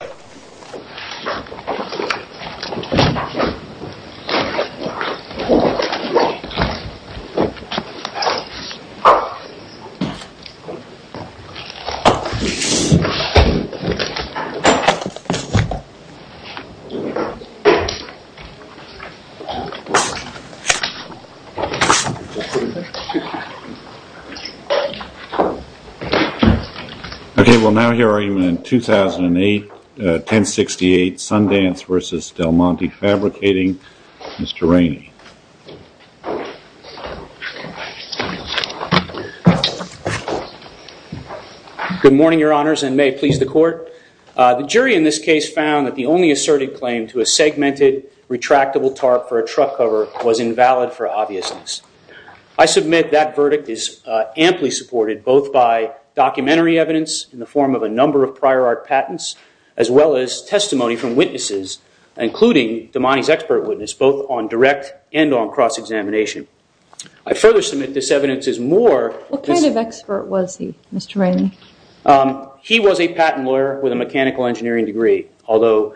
Okay, well now here I am in 2008, 1068 Sundance v. Demonte Fabricating. Mr. Rainey. Good morning, your honors, and may it please the court. The jury in this case found that the only asserted claim to a segmented retractable tarp for a truck cover was invalid for obviousness. I submit that verdict is amply supported both by documentary evidence in the form of a number of prior art patents, as well as testimony from witnesses, including Demonte's expert witness, both on direct and on cross-examination. I further submit this evidence is more... What kind of expert was he, Mr. Rainey? He was a patent lawyer with a mechanical engineering degree, although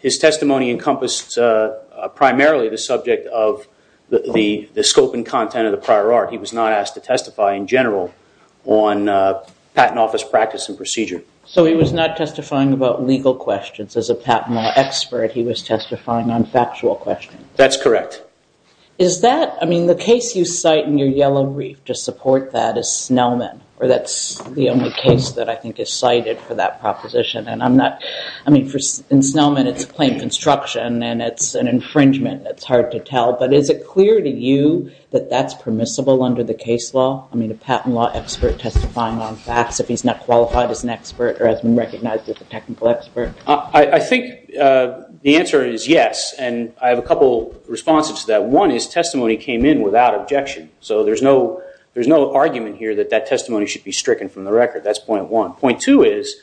his testimony encompassed primarily the subject of the scope and content of the prior art. He was not asked to testify in general on patent office practice and procedure. So he was not testifying about legal questions. As a patent law expert, he was testifying on factual questions. That's correct. Is that... I mean, the case you cite in your Yellow Reef to support that is Snellman, or that's the only case that I think is cited for that proposition, and I'm not... I mean, in Snellman it's a plain construction and it's an infringement. It's hard to tell, but is it clear to you that that's permissible under the case law? I mean, a patent law expert testifying on facts, if he's not qualified as an expert or has been recognized as a technical expert? I think the answer is yes, and I have a couple of responses to that. One is testimony came in without objection. So there's no argument here that that testimony should be stricken from the record. That's point one. Point two is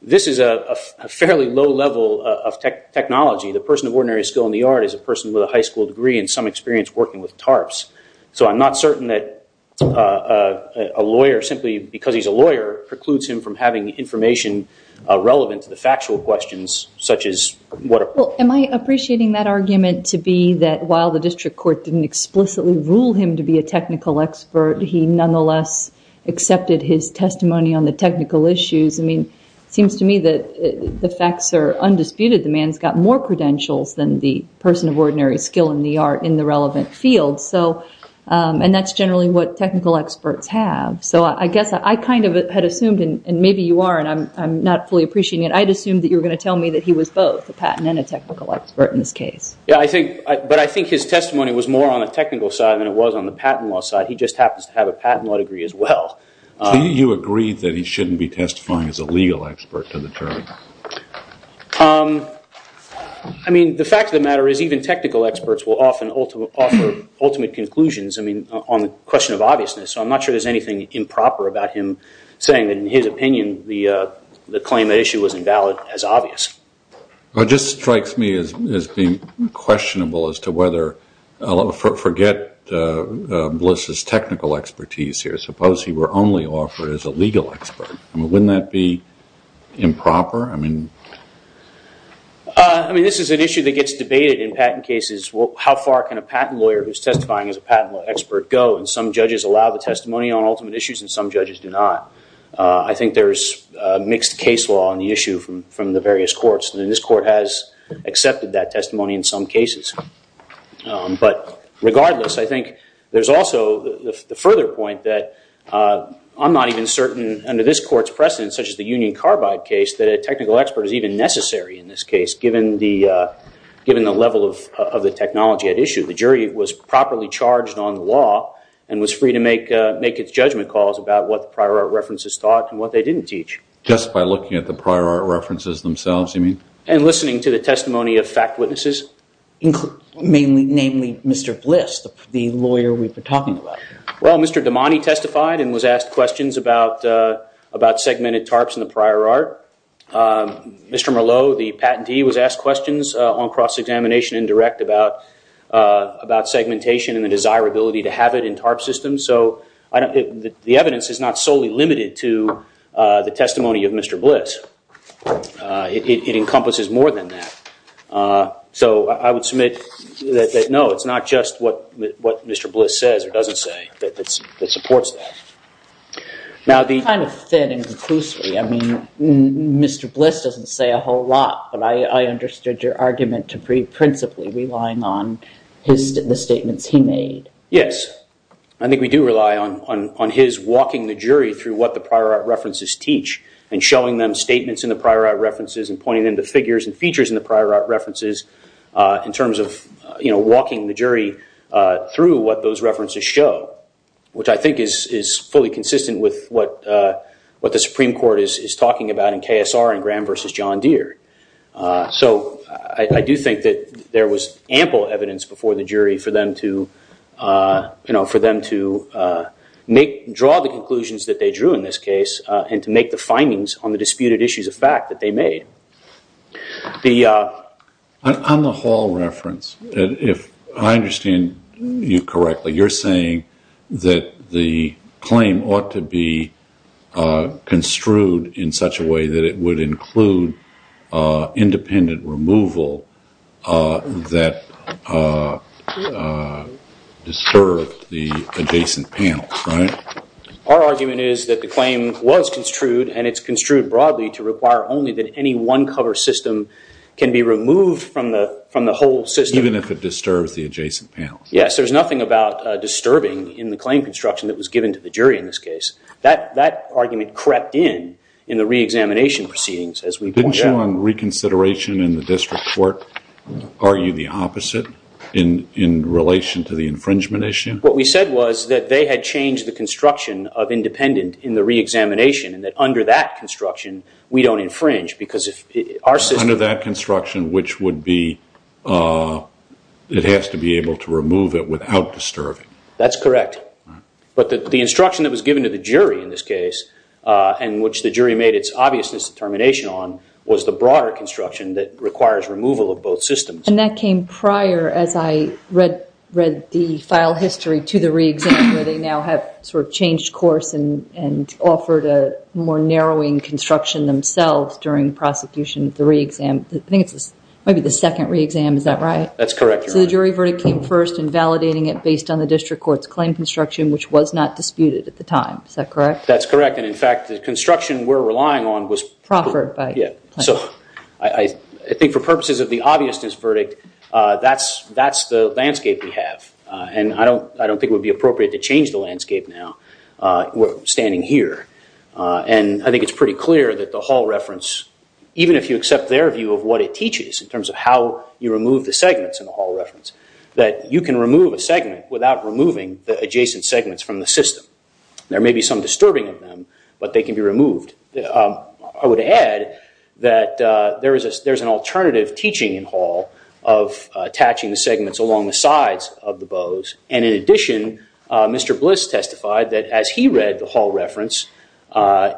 this is a fairly low level of technology. The person of ordinary skill in the art is a person with a high school degree and some experience working with tarps. So I'm not certain that a lawyer, simply because he's a lawyer, precludes him from having information relevant to the factual questions, such as what... Well, am I appreciating that argument to be that while the district court didn't explicitly rule him to be a technical expert, he nonetheless accepted his testimony on the technical issues? I mean, it seems to me that the facts are undisputed. The man's got more credentials than the person of ordinary skill in the art in the relevant field. And that's generally what technical experts have. So I guess I kind of had assumed, and maybe you are and I'm not fully appreciating it, I'd assumed that you were going to tell me that he was both a patent and a technical expert in this case. But I think his testimony was more on the technical side than it was on the patent law side. He just happens to have a patent law degree as well. You agree that he shouldn't be testifying as a legal expert to the jury? I mean, the fact of the matter is even technical experts will often offer ultimate conclusions on the question of obviousness. So I'm not sure there's anything improper about him saying that in his opinion, the claim that issue was invalid as obvious. It just strikes me as being questionable as to whether... Forget Bliss's technical expertise here. Suppose he were only offered as a legal expert. Wouldn't that be improper? I mean, this is an issue that gets debated in patent cases. How far can a patent lawyer who's testifying as a patent expert go? And some judges allow the testimony on ultimate issues and some judges do not. I think there's a mixed case law on the issue from the various courts. And this court has accepted that testimony in some cases. But regardless, I think there's also the further point that I'm not even certain under this court's precedent, such as the Union Carbide case, that a technical expert is even necessary in this case, given the level of the technology at issue. The jury was properly charged on the law and was free to make its judgment calls about what the prior art references taught and what they didn't teach. Just by looking at the prior art references themselves, you mean? And listening to the testimony of fact witnesses. Mainly Mr. Bliss, the lawyer we've been talking about. Well, Mr. Damani testified and was asked questions about segmented tarps in the prior art. Mr. Merlot, the patentee, was asked questions on cross-examination indirect about segmentation and the desirability to have it in tarp systems. So the evidence is not solely limited to the prior art. It encompasses more than that. So I would submit that no, it's not just what Mr. Bliss says or doesn't say that supports that. Kind of thin and conclusively, I mean, Mr. Bliss doesn't say a whole lot, but I understood your argument to be principally relying on the statements he made. Yes. I think we do rely on his walking the jury through what the prior art references teach and showing them statements in the prior art references and pointing them to figures and features in the prior art references in terms of walking the jury through what those references show, which I think is fully consistent with what the Supreme Court is talking about in KSR and Graham versus John Deere. So I do think that there was ample evidence before the jury for them to draw the conclusions that they drew in this case and to make the findings on the disputed issues of fact that they made. On the hall reference, if I understand you correctly, you're saying that the claim ought to be construed in such a way that it would include independent removal that disturbed the adjacent panels, right? Our argument is that the claim was construed and it's construed broadly to require only that any one cover system can be removed from the whole system. Even if it disturbs the adjacent panels. Yes. There's nothing about disturbing in the claim construction that was given to the jury in this case. That argument crept in in the re-examination proceedings as we pointed out. Didn't you on reconsideration in the district court argue the opposite in relation to the infringement issue? What we said was that they had changed the construction of independent in the re-examination and that under that construction we don't infringe because if our system... Under that construction which would be, it has to be able to remove it without disturbing. That's correct. But the instruction that was given to the jury in this case and which the jury made its obviousness determination on was the broader construction that requires removal of both systems. And that came prior as I read the file history to the re-exam where they now have sort of changed course and offered a more narrowing construction themselves during prosecution of the re-exam. I think it's maybe the second re-exam. Is that right? That's correct. So the jury verdict came first in validating it based on the district court's claim construction which was not disputed at the time. Is that correct? That's correct. And in fact the construction we're relying on was... Proffered by... Yeah. So I think for purposes of the obviousness verdict, that's the landscape we have. And I don't think it would be appropriate to change the landscape now. We're standing here. And I think it's pretty clear that the hall reference, even if you accept their view of what it teaches in terms of how you remove the segments in the hall reference, that you can remove a segment without removing the adjacent segments from the system. There may be some disturbing of them, but they can be removed. I would add that there's an alternative teaching in hall of attaching the segments along the sides of the bows. And in addition, Mr. Bliss testified that as he read the hall reference,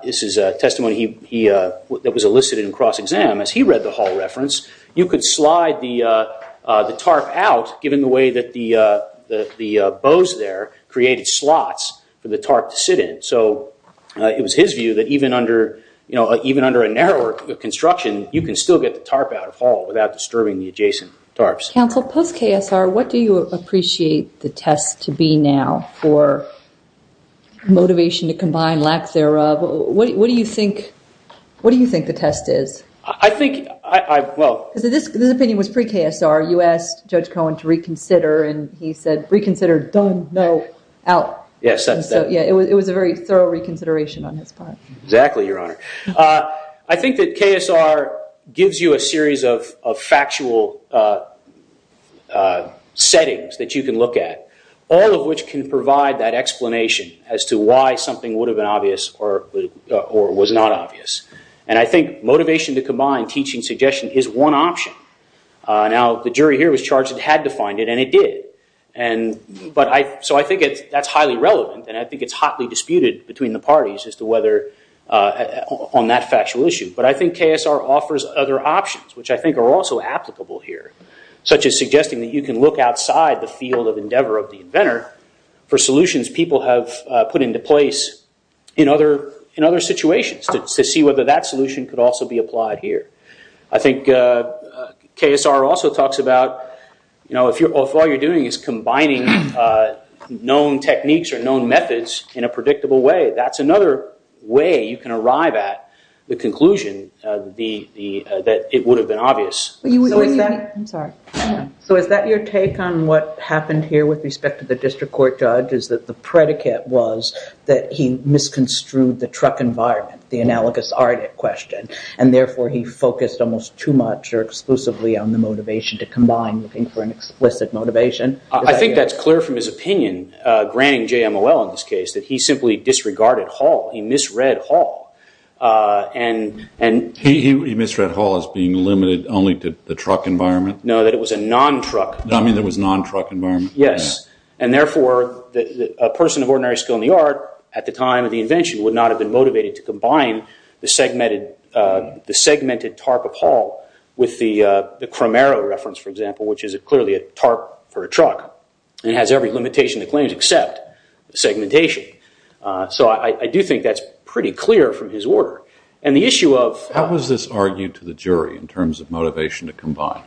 this is a testimony that was elicited in cross-exam, as he read the hall reference, you could slide the tarp out given the way that the bows there created slots for the tarp to sit in. So it was his view that even under a narrower construction, you can still get the tarp out of hall without disturbing the adjacent tarps. Counsel, post-KSR, what do you appreciate the test to be now for motivation to combine lack thereof? What do you think the test is? This opinion was pre-KSR. You asked Judge Cohen to reconsider and he said, done, no, out. It was a very thorough reconsideration on his part. Exactly, Your Honor. I think that KSR gives you a series of factual settings that you can look at, all of which can provide that explanation as to why something would have been obvious or was not obvious. And I think motivation to combine teaching suggestion is one option. Now, the jury here was charged it had to find it and it did. So I think that's highly relevant and I think it's hotly disputed between the parties as to whether on that factual issue. But I think KSR offers other options, which I think are also applicable here, such as suggesting that you can look outside the field of endeavor of the inventor for solutions people have put into place in other situations to see whether that solution could also be applied here. I think KSR also talks about, you know, if all you're doing is combining known techniques or known methods in a predictable way, that's another way you can arrive at the conclusion that it would have been obvious. So is that your take on what happened here with respect to the district court, Judge, is that the predicate was that he misconstrued the truck environment, the analogous art question, and therefore he focused almost too much or exclusively on the motivation to combine looking for an explicit motivation? I think that's clear from his opinion, granting JMOL in this case, that he simply disregarded Hall. He misread Hall. And he misread Hall as being limited only to the truck environment? No, that it was a non-truck. I mean, there was non-truck environment? Yes. And therefore, a person of ordinary skill in the art at the time of the invention would not have been motivated to combine the segmented tarp of Hall with the Cromero reference, for example, which is clearly a tarp for a truck. And it has every limitation it claims except segmentation. So I do think that's pretty clear from his order. And the issue of- How was this argued to the jury in terms of motivation to combine?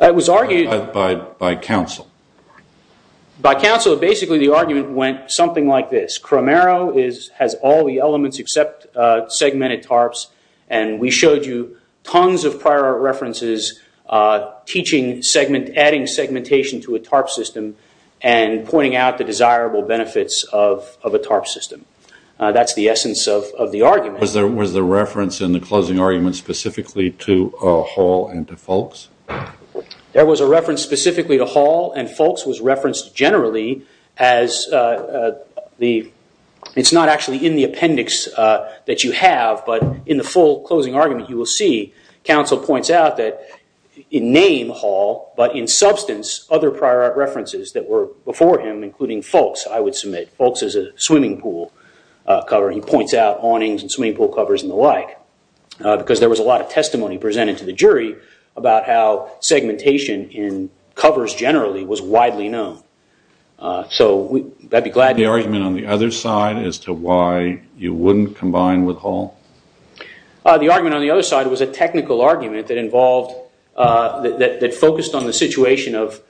It was argued- By counsel? By counsel. Basically, the argument went something like this. Cromero has all the elements except segmented tarps, and we showed you tons of prior art references teaching segment- adding segmentation to a tarp system and pointing out the desirable benefits of a tarp system. That's the essence of the argument. Was there was the reference in the closing argument specifically to Hall and to Foulkes? There was a reference specifically to Hall and Foulkes was referenced generally as the- It's not actually in the appendix that you have, but in the full closing argument, you will see counsel points out that in name, Hall, but in substance, other prior art references that were before him, including Foulkes, I would submit. Foulkes is a swimming pool cover. He points out awnings and swimming pool covers and the like because there was a lot of testimony presented to the jury about how segmentation in covers generally was widely known. So I'd be glad- The argument on the other side as to why you wouldn't combine with Hall? The argument on the other side was a technical argument that involved- that focused on the situation of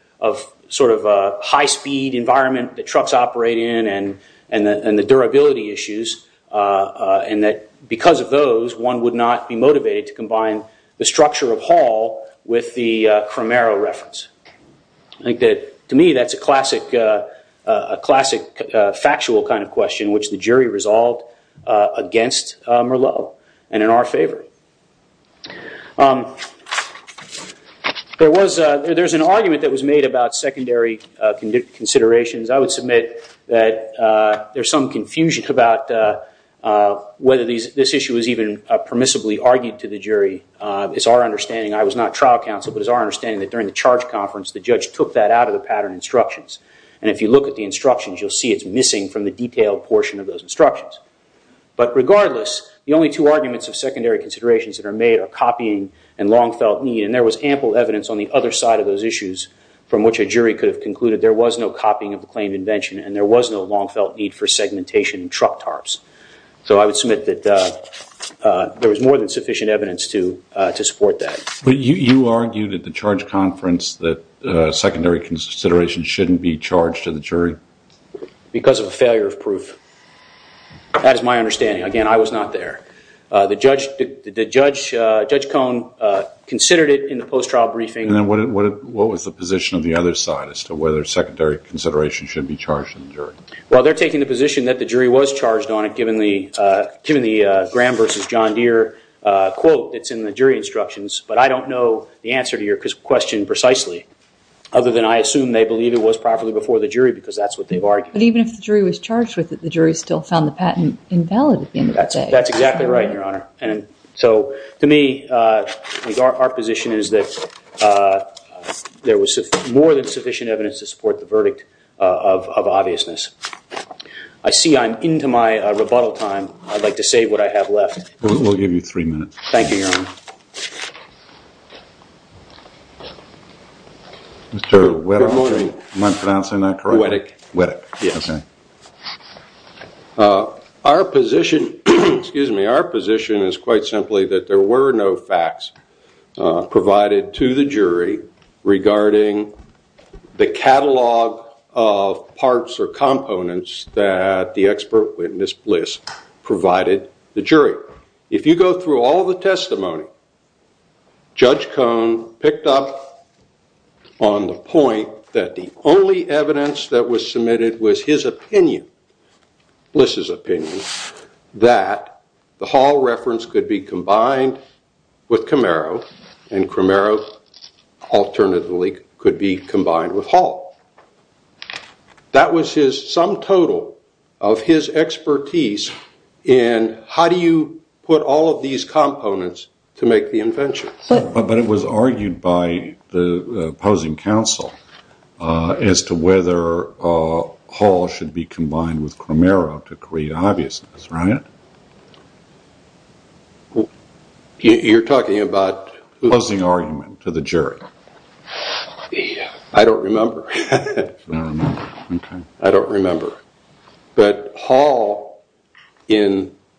sort of a high-speed environment that trucks operate in and the durability issues and that because of those, one would not be I think that to me, that's a classic factual kind of question, which the jury resolved against Merleau and in our favor. There's an argument that was made about secondary considerations. I would submit that there's some confusion about whether this issue was even permissibly argued to the jury. It's our understanding, I was not trial counsel, but it's our understanding that during the charge conference, the judge took that out of the pattern instructions. And if you look at the instructions, you'll see it's missing from the detailed portion of those instructions. But regardless, the only two arguments of secondary considerations that are made are copying and long felt need. And there was ample evidence on the other side of those issues from which a jury could have concluded there was no copying of the claimed invention and there was no long felt need for segmentation in truck tarps. So I would submit that there was more than sufficient evidence to support that. But you argued at the charge conference that secondary consideration shouldn't be charged to the jury? Because of a failure of proof. That is my understanding. Again, I was not there. The judge, Judge Cone, considered it in the post-trial briefing. And then what was the position of the other side as to whether secondary consideration should be charged to the jury? Well, they're taking the position that the jury was charged on it given the Graham v. John Deere quote that's in the jury instructions. But I don't know the answer to your question precisely, other than I assume they believe it was properly before the jury because that's what they've argued. But even if the jury was charged with it, the jury still found the patent invalid at the end of the day. That's exactly right, Your Honor. And so to me, our position is that there was more than sufficient evidence to support the verdict of obviousness. I see I'm into my rebuttal time. I'd like to save what I have left. We'll give you three minutes. Thank you, Your Honor. Mr. Weddick, am I pronouncing that correctly? Weddick. Weddick, okay. Our position is quite simply that there were no facts provided to the jury regarding the catalog of parts or components that the expert witness Bliss provided the jury. If you go through all the testimony, Judge Cohn picked up on the point that the only evidence that was submitted was his opinion, Bliss's opinion, that the Hall reference could be combined with Camaro and Camaro alternatively could be combined with Hall. That was his sum total of his expertise in how do you put all of these components to make the invention. But it was argued by the opposing counsel as to whether Hall should be combined with Camaro to create obviousness, right? You're talking about... Closing argument to the jury. I don't remember. I don't remember. But Hall, if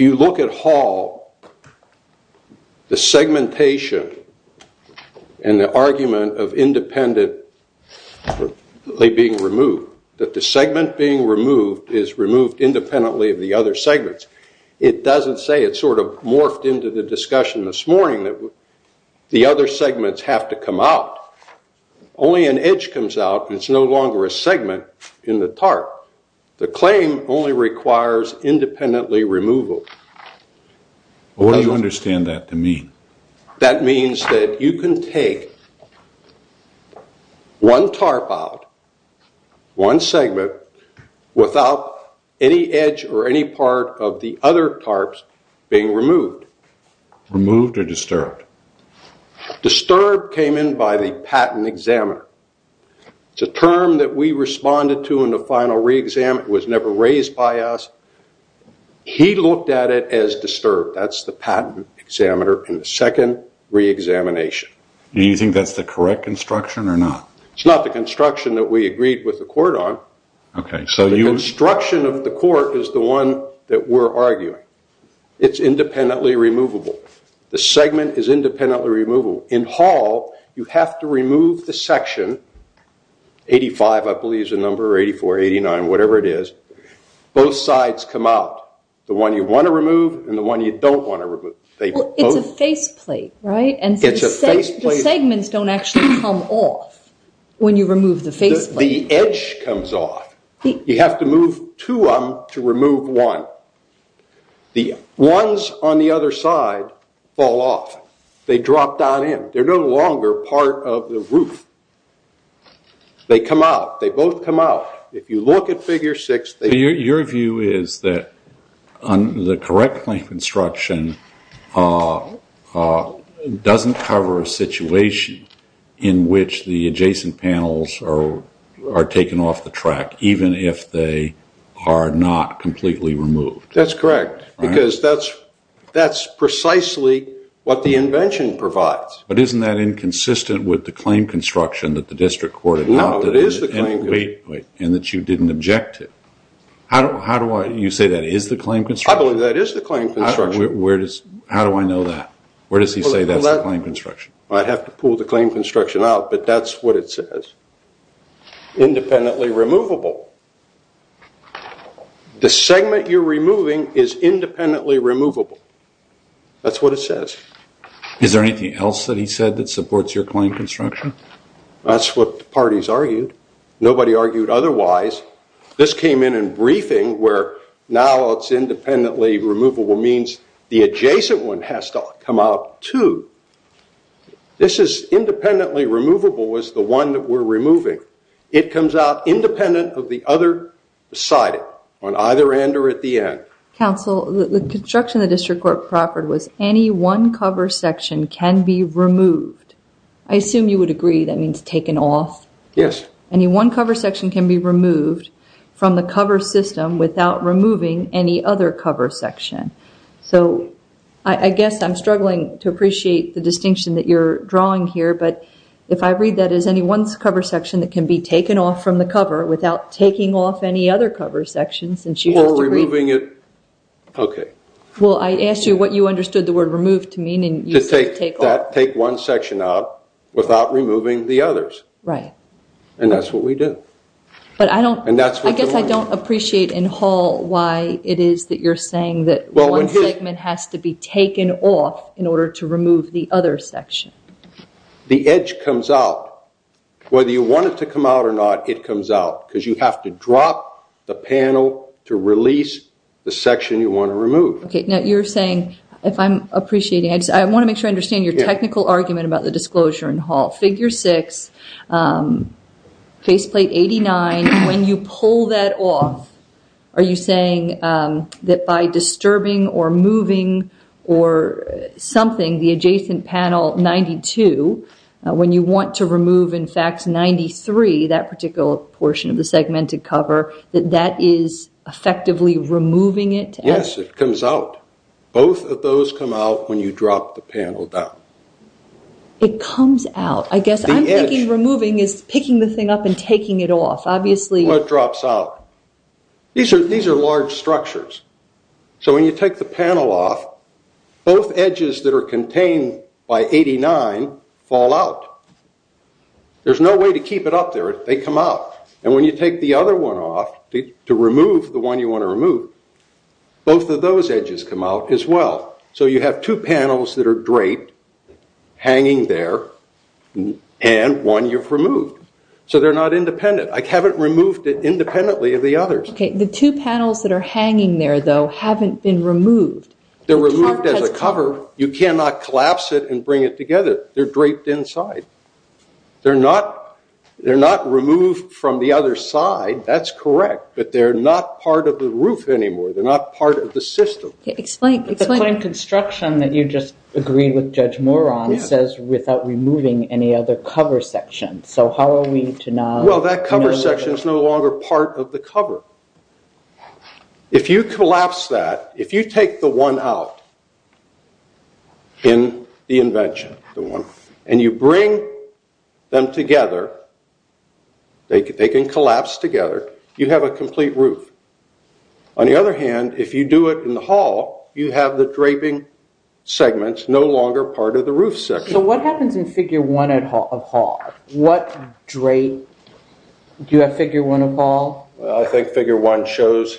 you look at Hall, the segmentation and the argument of independently being removed, that the segment being removed is removed independently of the other segments, it doesn't say it's sort of morphed into the discussion this morning that the other segments have to come out. Only an edge comes out. It's no longer a segment in the tarp. The claim only requires independently removal. What do you understand that to mean? That means that you can take one tarp out, one segment, without any edge or any part of the other tarps being removed. Removed or disturbed? Disturbed came in by the patent examiner. It's a term that we responded to in the final re-exam. It was never raised by us. He looked at it as disturbed. That's the patent examiner in the second re-examination. Do you think that's the correct construction or not? It's not the construction that we agreed with the court on. Okay. The construction of the court is the one that we're arguing. It's independently removable. The segment is independently removable. In Hall, you have to remove the section 85, I believe is the number, or 84, 89, whatever it is. Both sides come out. The one you want to remove and the one you don't want to remove. It's a face plate, right? It's a face plate. The segments don't actually come off when you remove the face plate. The edge comes off. You have to move two of them to remove one. The ones on the other side fall off. They drop down in. They're no longer part of the roof. They come out. They both come out. If you look at figure six, they- Your view is that the correct claim construction doesn't cover a situation in which the adjacent panels are taken off the track, even if they are not completely removed. That's correct because that's precisely what the invention provides. But isn't that inconsistent with the claim construction that the district court- No, it is the claim construction. And that you didn't object to it. How do I- You say that is the claim construction? I believe that is the claim construction. Where does- How do I know that? Where does he say that's the claim construction? I'd have to pull the claim construction out, but that's what it says. Independently removable. The segment you're removing is independently removable. That's what it says. Is there anything else that he said that supports your claim construction? That's what the parties argued. Nobody argued otherwise. This came in in briefing where now it's independently removable means the adjacent one has to come out too. This is independently removable is the one that we're removing. It comes out independent of the other side on either end or at the end. Counsel, the construction the district court proffered was any one cover section can be removed. I assume you would agree that means taken off? Yes. Any one cover section can be removed from the cover system without removing any other cover section. I guess I'm struggling to appreciate the distinction that you're drawing here, but if I read that as any one cover section that can be taken off from the cover without taking off any other cover sections and she has to- Or removing it. Okay. Well, I asked you what you understood the word removed to mean and you said take off. Take one section out without removing the others. Right. And that's what we do. I guess I don't appreciate in Hall why it is that you're saying that one segment has to be taken off in order to remove the other section. The edge comes out. Whether you want it to come out or not, it comes out because you have to drop the panel to release the section you want to remove. Okay. Now you're saying if I'm appreciating, I want to make sure I understand your technical argument about the disclosure in Hall. Figure six, faceplate 89, when you pull that off, are you saying that by disturbing or moving or something, the adjacent panel 92, when you want to remove, in fact, 93, that particular portion of the segmented cover, that that is effectively removing it? Yes, it comes out. Both of those come out when you drop the panel down. It comes out. I guess I'm thinking removing is picking the thing up and taking it off, obviously. Well, it drops out. These are large structures. So when you take the panel off, both edges that are contained by 89 fall out. There's no way to keep it up there. They come out. And when you take the other one off to remove the one you want to remove, both of those edges come out as well. So you have two panels that are draped, hanging there, and one you've removed. So they're not independent. I haven't removed it independently of the others. OK. The two panels that are hanging there, though, haven't been removed. They're removed as a cover. You cannot collapse it and bring it together. They're draped inside. They're not removed from the other side. That's correct. But they're not part of the roof anymore. They're not part of the system. Explain. The claim construction that you just agreed with Judge Moron says without removing any other cover section. So how are we to not remove it? Well, that cover section is no longer part of the cover. If you collapse that, if you take the one out in the invention, the one, and you bring them together, they can collapse together, you have a complete roof. On the other hand, if you do it in the hall, you have the draping segments no longer part of the roof section. So what happens in figure one of hall? What drape? Do you have figure one of ball? I think figure one shows.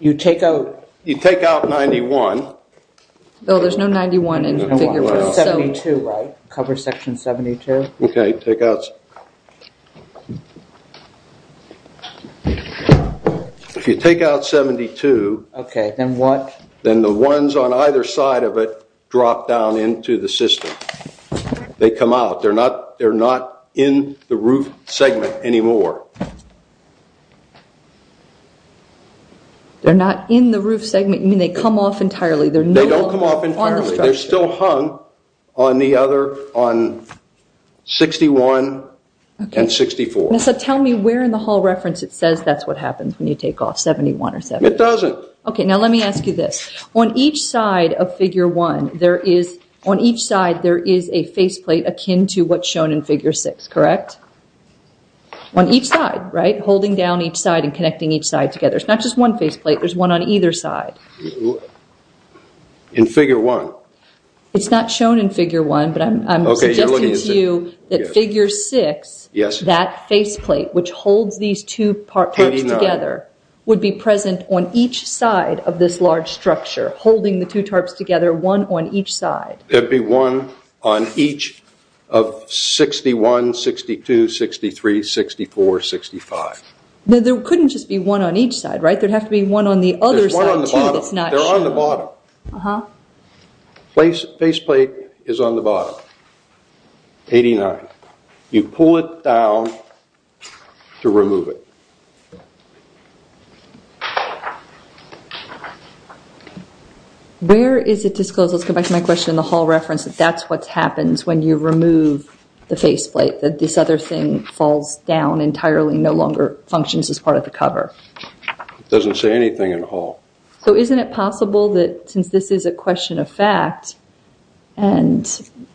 You take out 91. Bill, there's no 91 in figure 72, right? Cover section 72. OK. Take out. If you take out 72. OK, then what? Then the ones on either side of it drop down into the system. They come out. They're not in the roof segment anymore. They're not in the roof segment, you mean they come off entirely? They don't come off entirely. They're still hung on the other, on 61 and 64. Tell me where in the hall reference it says that's what happens when you take off 71 or 72. It doesn't. OK, now let me ask you this. On each side of figure one, there is, on each side, there is a face plate akin to what's shown in figure six, correct? On each side, right? Holding down each side and connecting each side together. It's not just one face plate, there's one on either side. In figure one. It's not shown in figure one, but I'm suggesting to you that figure six. Yes. That face plate, which holds these two parts together, would be present on each side of this large structure, holding the two tarps together, one on each side. There'd be one on each of 61, 62, 63, 64, 65. Now there couldn't just be one on each side, right? There'd have to be one on the other side too that's not shown. There's one on the bottom, they're on the bottom. Face plate is on the bottom, 89. You pull it down to remove it. Where is it disclosed, let's go back to my question in the Hall reference, that that's what happens when you remove the face plate, that this other thing falls down entirely, no longer functions as part of the cover? It doesn't say anything in Hall. So isn't it possible that since this is a question of fact, and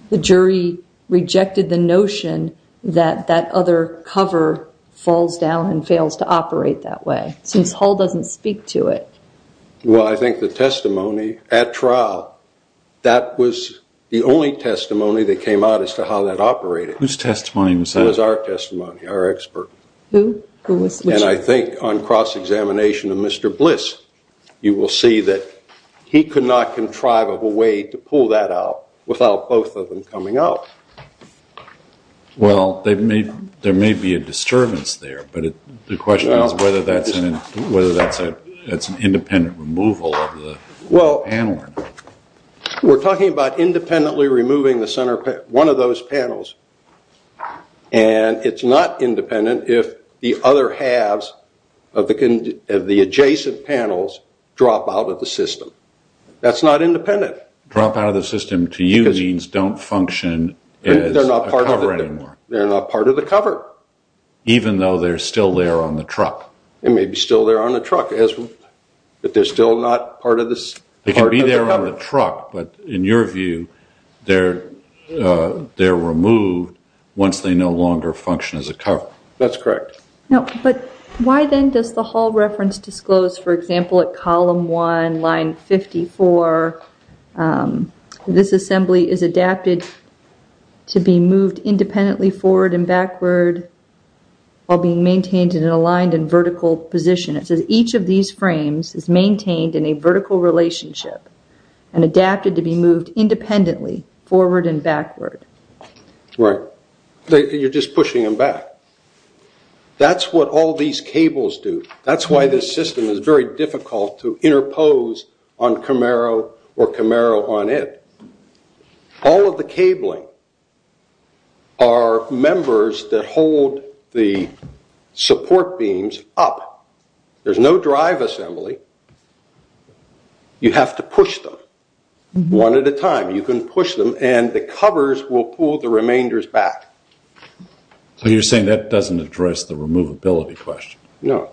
the jury rejected the notion that that other cover falls down and fails to operate that way, since Hall doesn't speak to it? Well, I think the testimony at trial, that was the only testimony that came out as to how that operated. Whose testimony was that? It was our testimony, our expert. Who was? And I think on cross-examination of Mr. Bliss, you will see that he could not contrive a way to pull that out without both of them coming out. Well, there may be a disturbance there, but the question is whether that's an independent removal of the panel or not. We're talking about independently removing one of those panels, and it's not independent if the other halves of the adjacent panels drop out of the system. That's not independent. Drop out of the system to you means don't function as a cover. They're not part of the cover. Even though they're still there on the truck. They may be still there on the truck, but they're still not part of the cover. They can be there on the truck, but in your view, they're removed once they no longer function as a cover. That's correct. But why then does the Hall reference disclose, for example, at column one, line 54, this forward and backward while being maintained in an aligned and vertical position? It says each of these frames is maintained in a vertical relationship and adapted to be moved independently forward and backward. Right. You're just pushing them back. That's what all these cables do. That's why this system is very difficult to interpose on Camaro or Camaro on it. All of the cabling are members that hold the support beams up. There's no drive assembly. You have to push them one at a time. You can push them and the covers will pull the remainders back. So you're saying that doesn't address the removability question? No.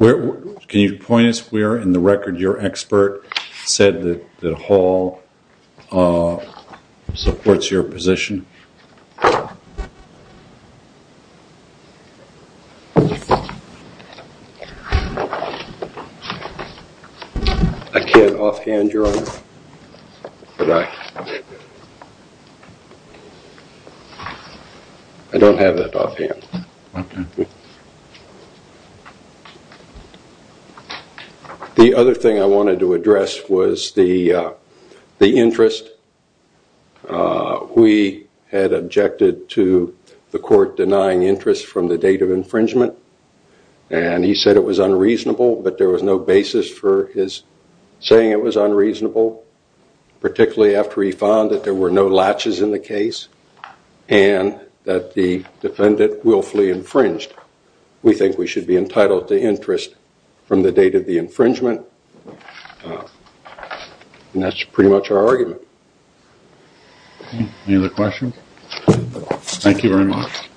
Can you point us where in the record your expert said that the Hall supports your position? I can't offhand, Your Honor. I don't have it offhand. The other thing I wanted to address was the interest. We had objected to the court denying interest from the date of infringement. And he said it was unreasonable, but there was no basis for his saying it was unreasonable, particularly after he found that there were no latches in the case and that the defendant willfully infringed. We think we should be entitled to interest from the date of the infringement. And that's pretty much our argument. Any other questions? Thank you very much.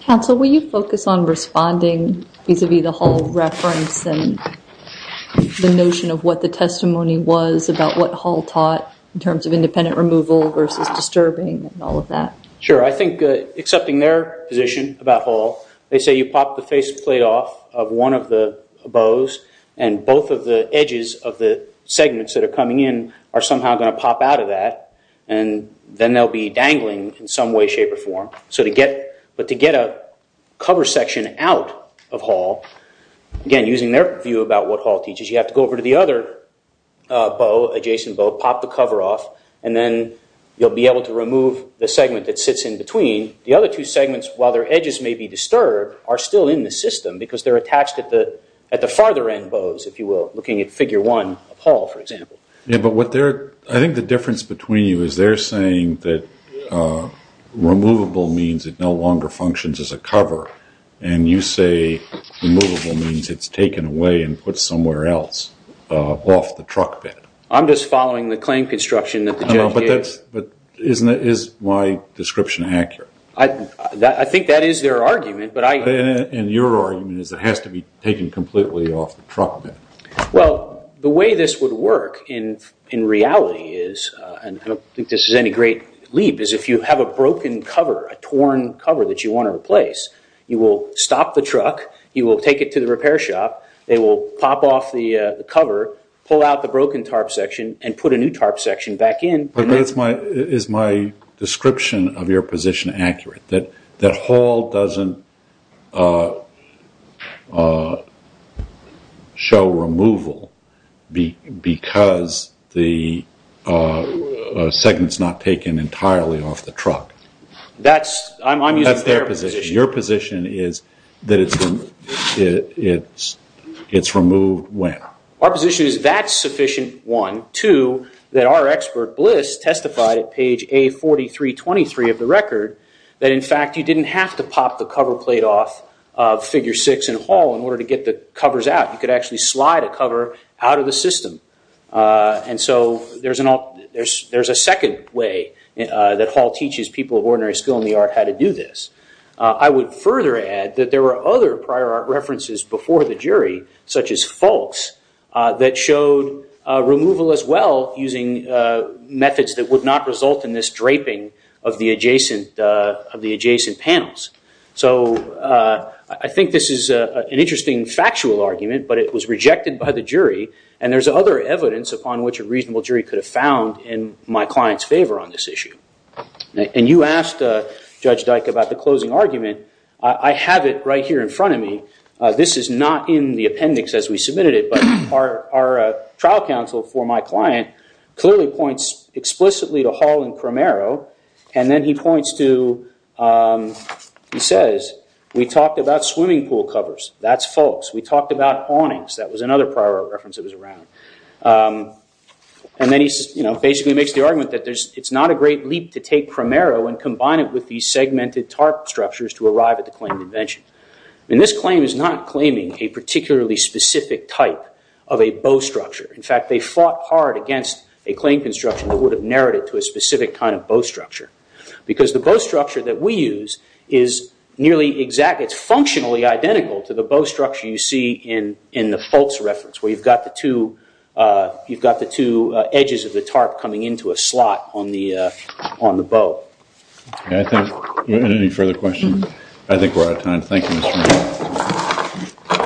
Counsel, will you focus on responding vis-a-vis the Hall reference and the notion of what the testimony was about what Hall taught in terms of independent removal versus disturbing and all of that? Sure. I think accepting their position about Hall, they say you pop the faceplate off of one of the bows and both of the edges of the segments that are coming in are somehow going to pop out of that. And then they'll be dangling in some way, shape, or form. So to get a cover section out of Hall, again, using their view about what Hall teaches, you have to go over to the other bow, adjacent bow, pop the cover off, and then you'll be able to remove the segment that sits in between. The other two segments, while their edges may be disturbed, are still in the system because they're attached at the farther end bows, if you will, looking at figure one of Hall, for example. Yeah, but I think the difference between you is they're saying that removable means it no longer functions as a cover. And you say removable means it's taken away and put somewhere else off the truck bed. I'm just following the claim construction that the judge gave. But is my description accurate? I think that is their argument. And your argument is it has to be taken completely off the truck bed. Well, the way this would work in reality is, and I don't think this is any great leap, is if you have a broken cover, a torn cover that you want to replace, you will stop the truck, you will take it to the repair shop, they will pop off the cover, pull out the broken tarp section, and put a new tarp section back in. Is my description of your position accurate? That Hall doesn't show removal because the segment's not taken entirely off the truck? That's their position. Your position is that it's removed when? Our position is that's sufficient, one. Two, that our expert, Bliss, testified at page A4323 of the record, that in fact you didn't have to pop the cover plate off of figure six in Hall in order to get the covers out. You could actually slide a cover out of the system. And so there's a second way that Hall teaches people of ordinary skill in the art how to do this. I would further add that there were other prior art references before the jury, such as Faulks, that showed removal as well using methods that would not result in this draping of the adjacent panels. So I think this is an interesting factual argument, but it was rejected by the jury. And there's other evidence upon which a reasonable jury could have found in my client's favor on this issue. And you asked Judge Dyke about the closing argument. I have it right here in front of me. This is not in the appendix as we submitted it. But our trial counsel for my client clearly points explicitly to Hall and Cromero. And then he points to, he says, we talked about swimming pool covers. That's Faulks. We talked about awnings. That was another prior art reference that was around. And then he basically makes the argument that it's not a great leap to take Cromero and combine it with these segmented tarp structures to arrive at the claim of invention. And this claim is not claiming a particularly specific type of a bow structure. In fact, they fought hard against a claim construction that would have narrowed it to a specific kind of bow structure. Because the bow structure that we use is nearly exact. It's functionally identical to the bow structure you see in the Faulks reference, where you've got the two edges of the tarp coming into a slot on the bow. I think any further questions? I think we're out of time. Thank you.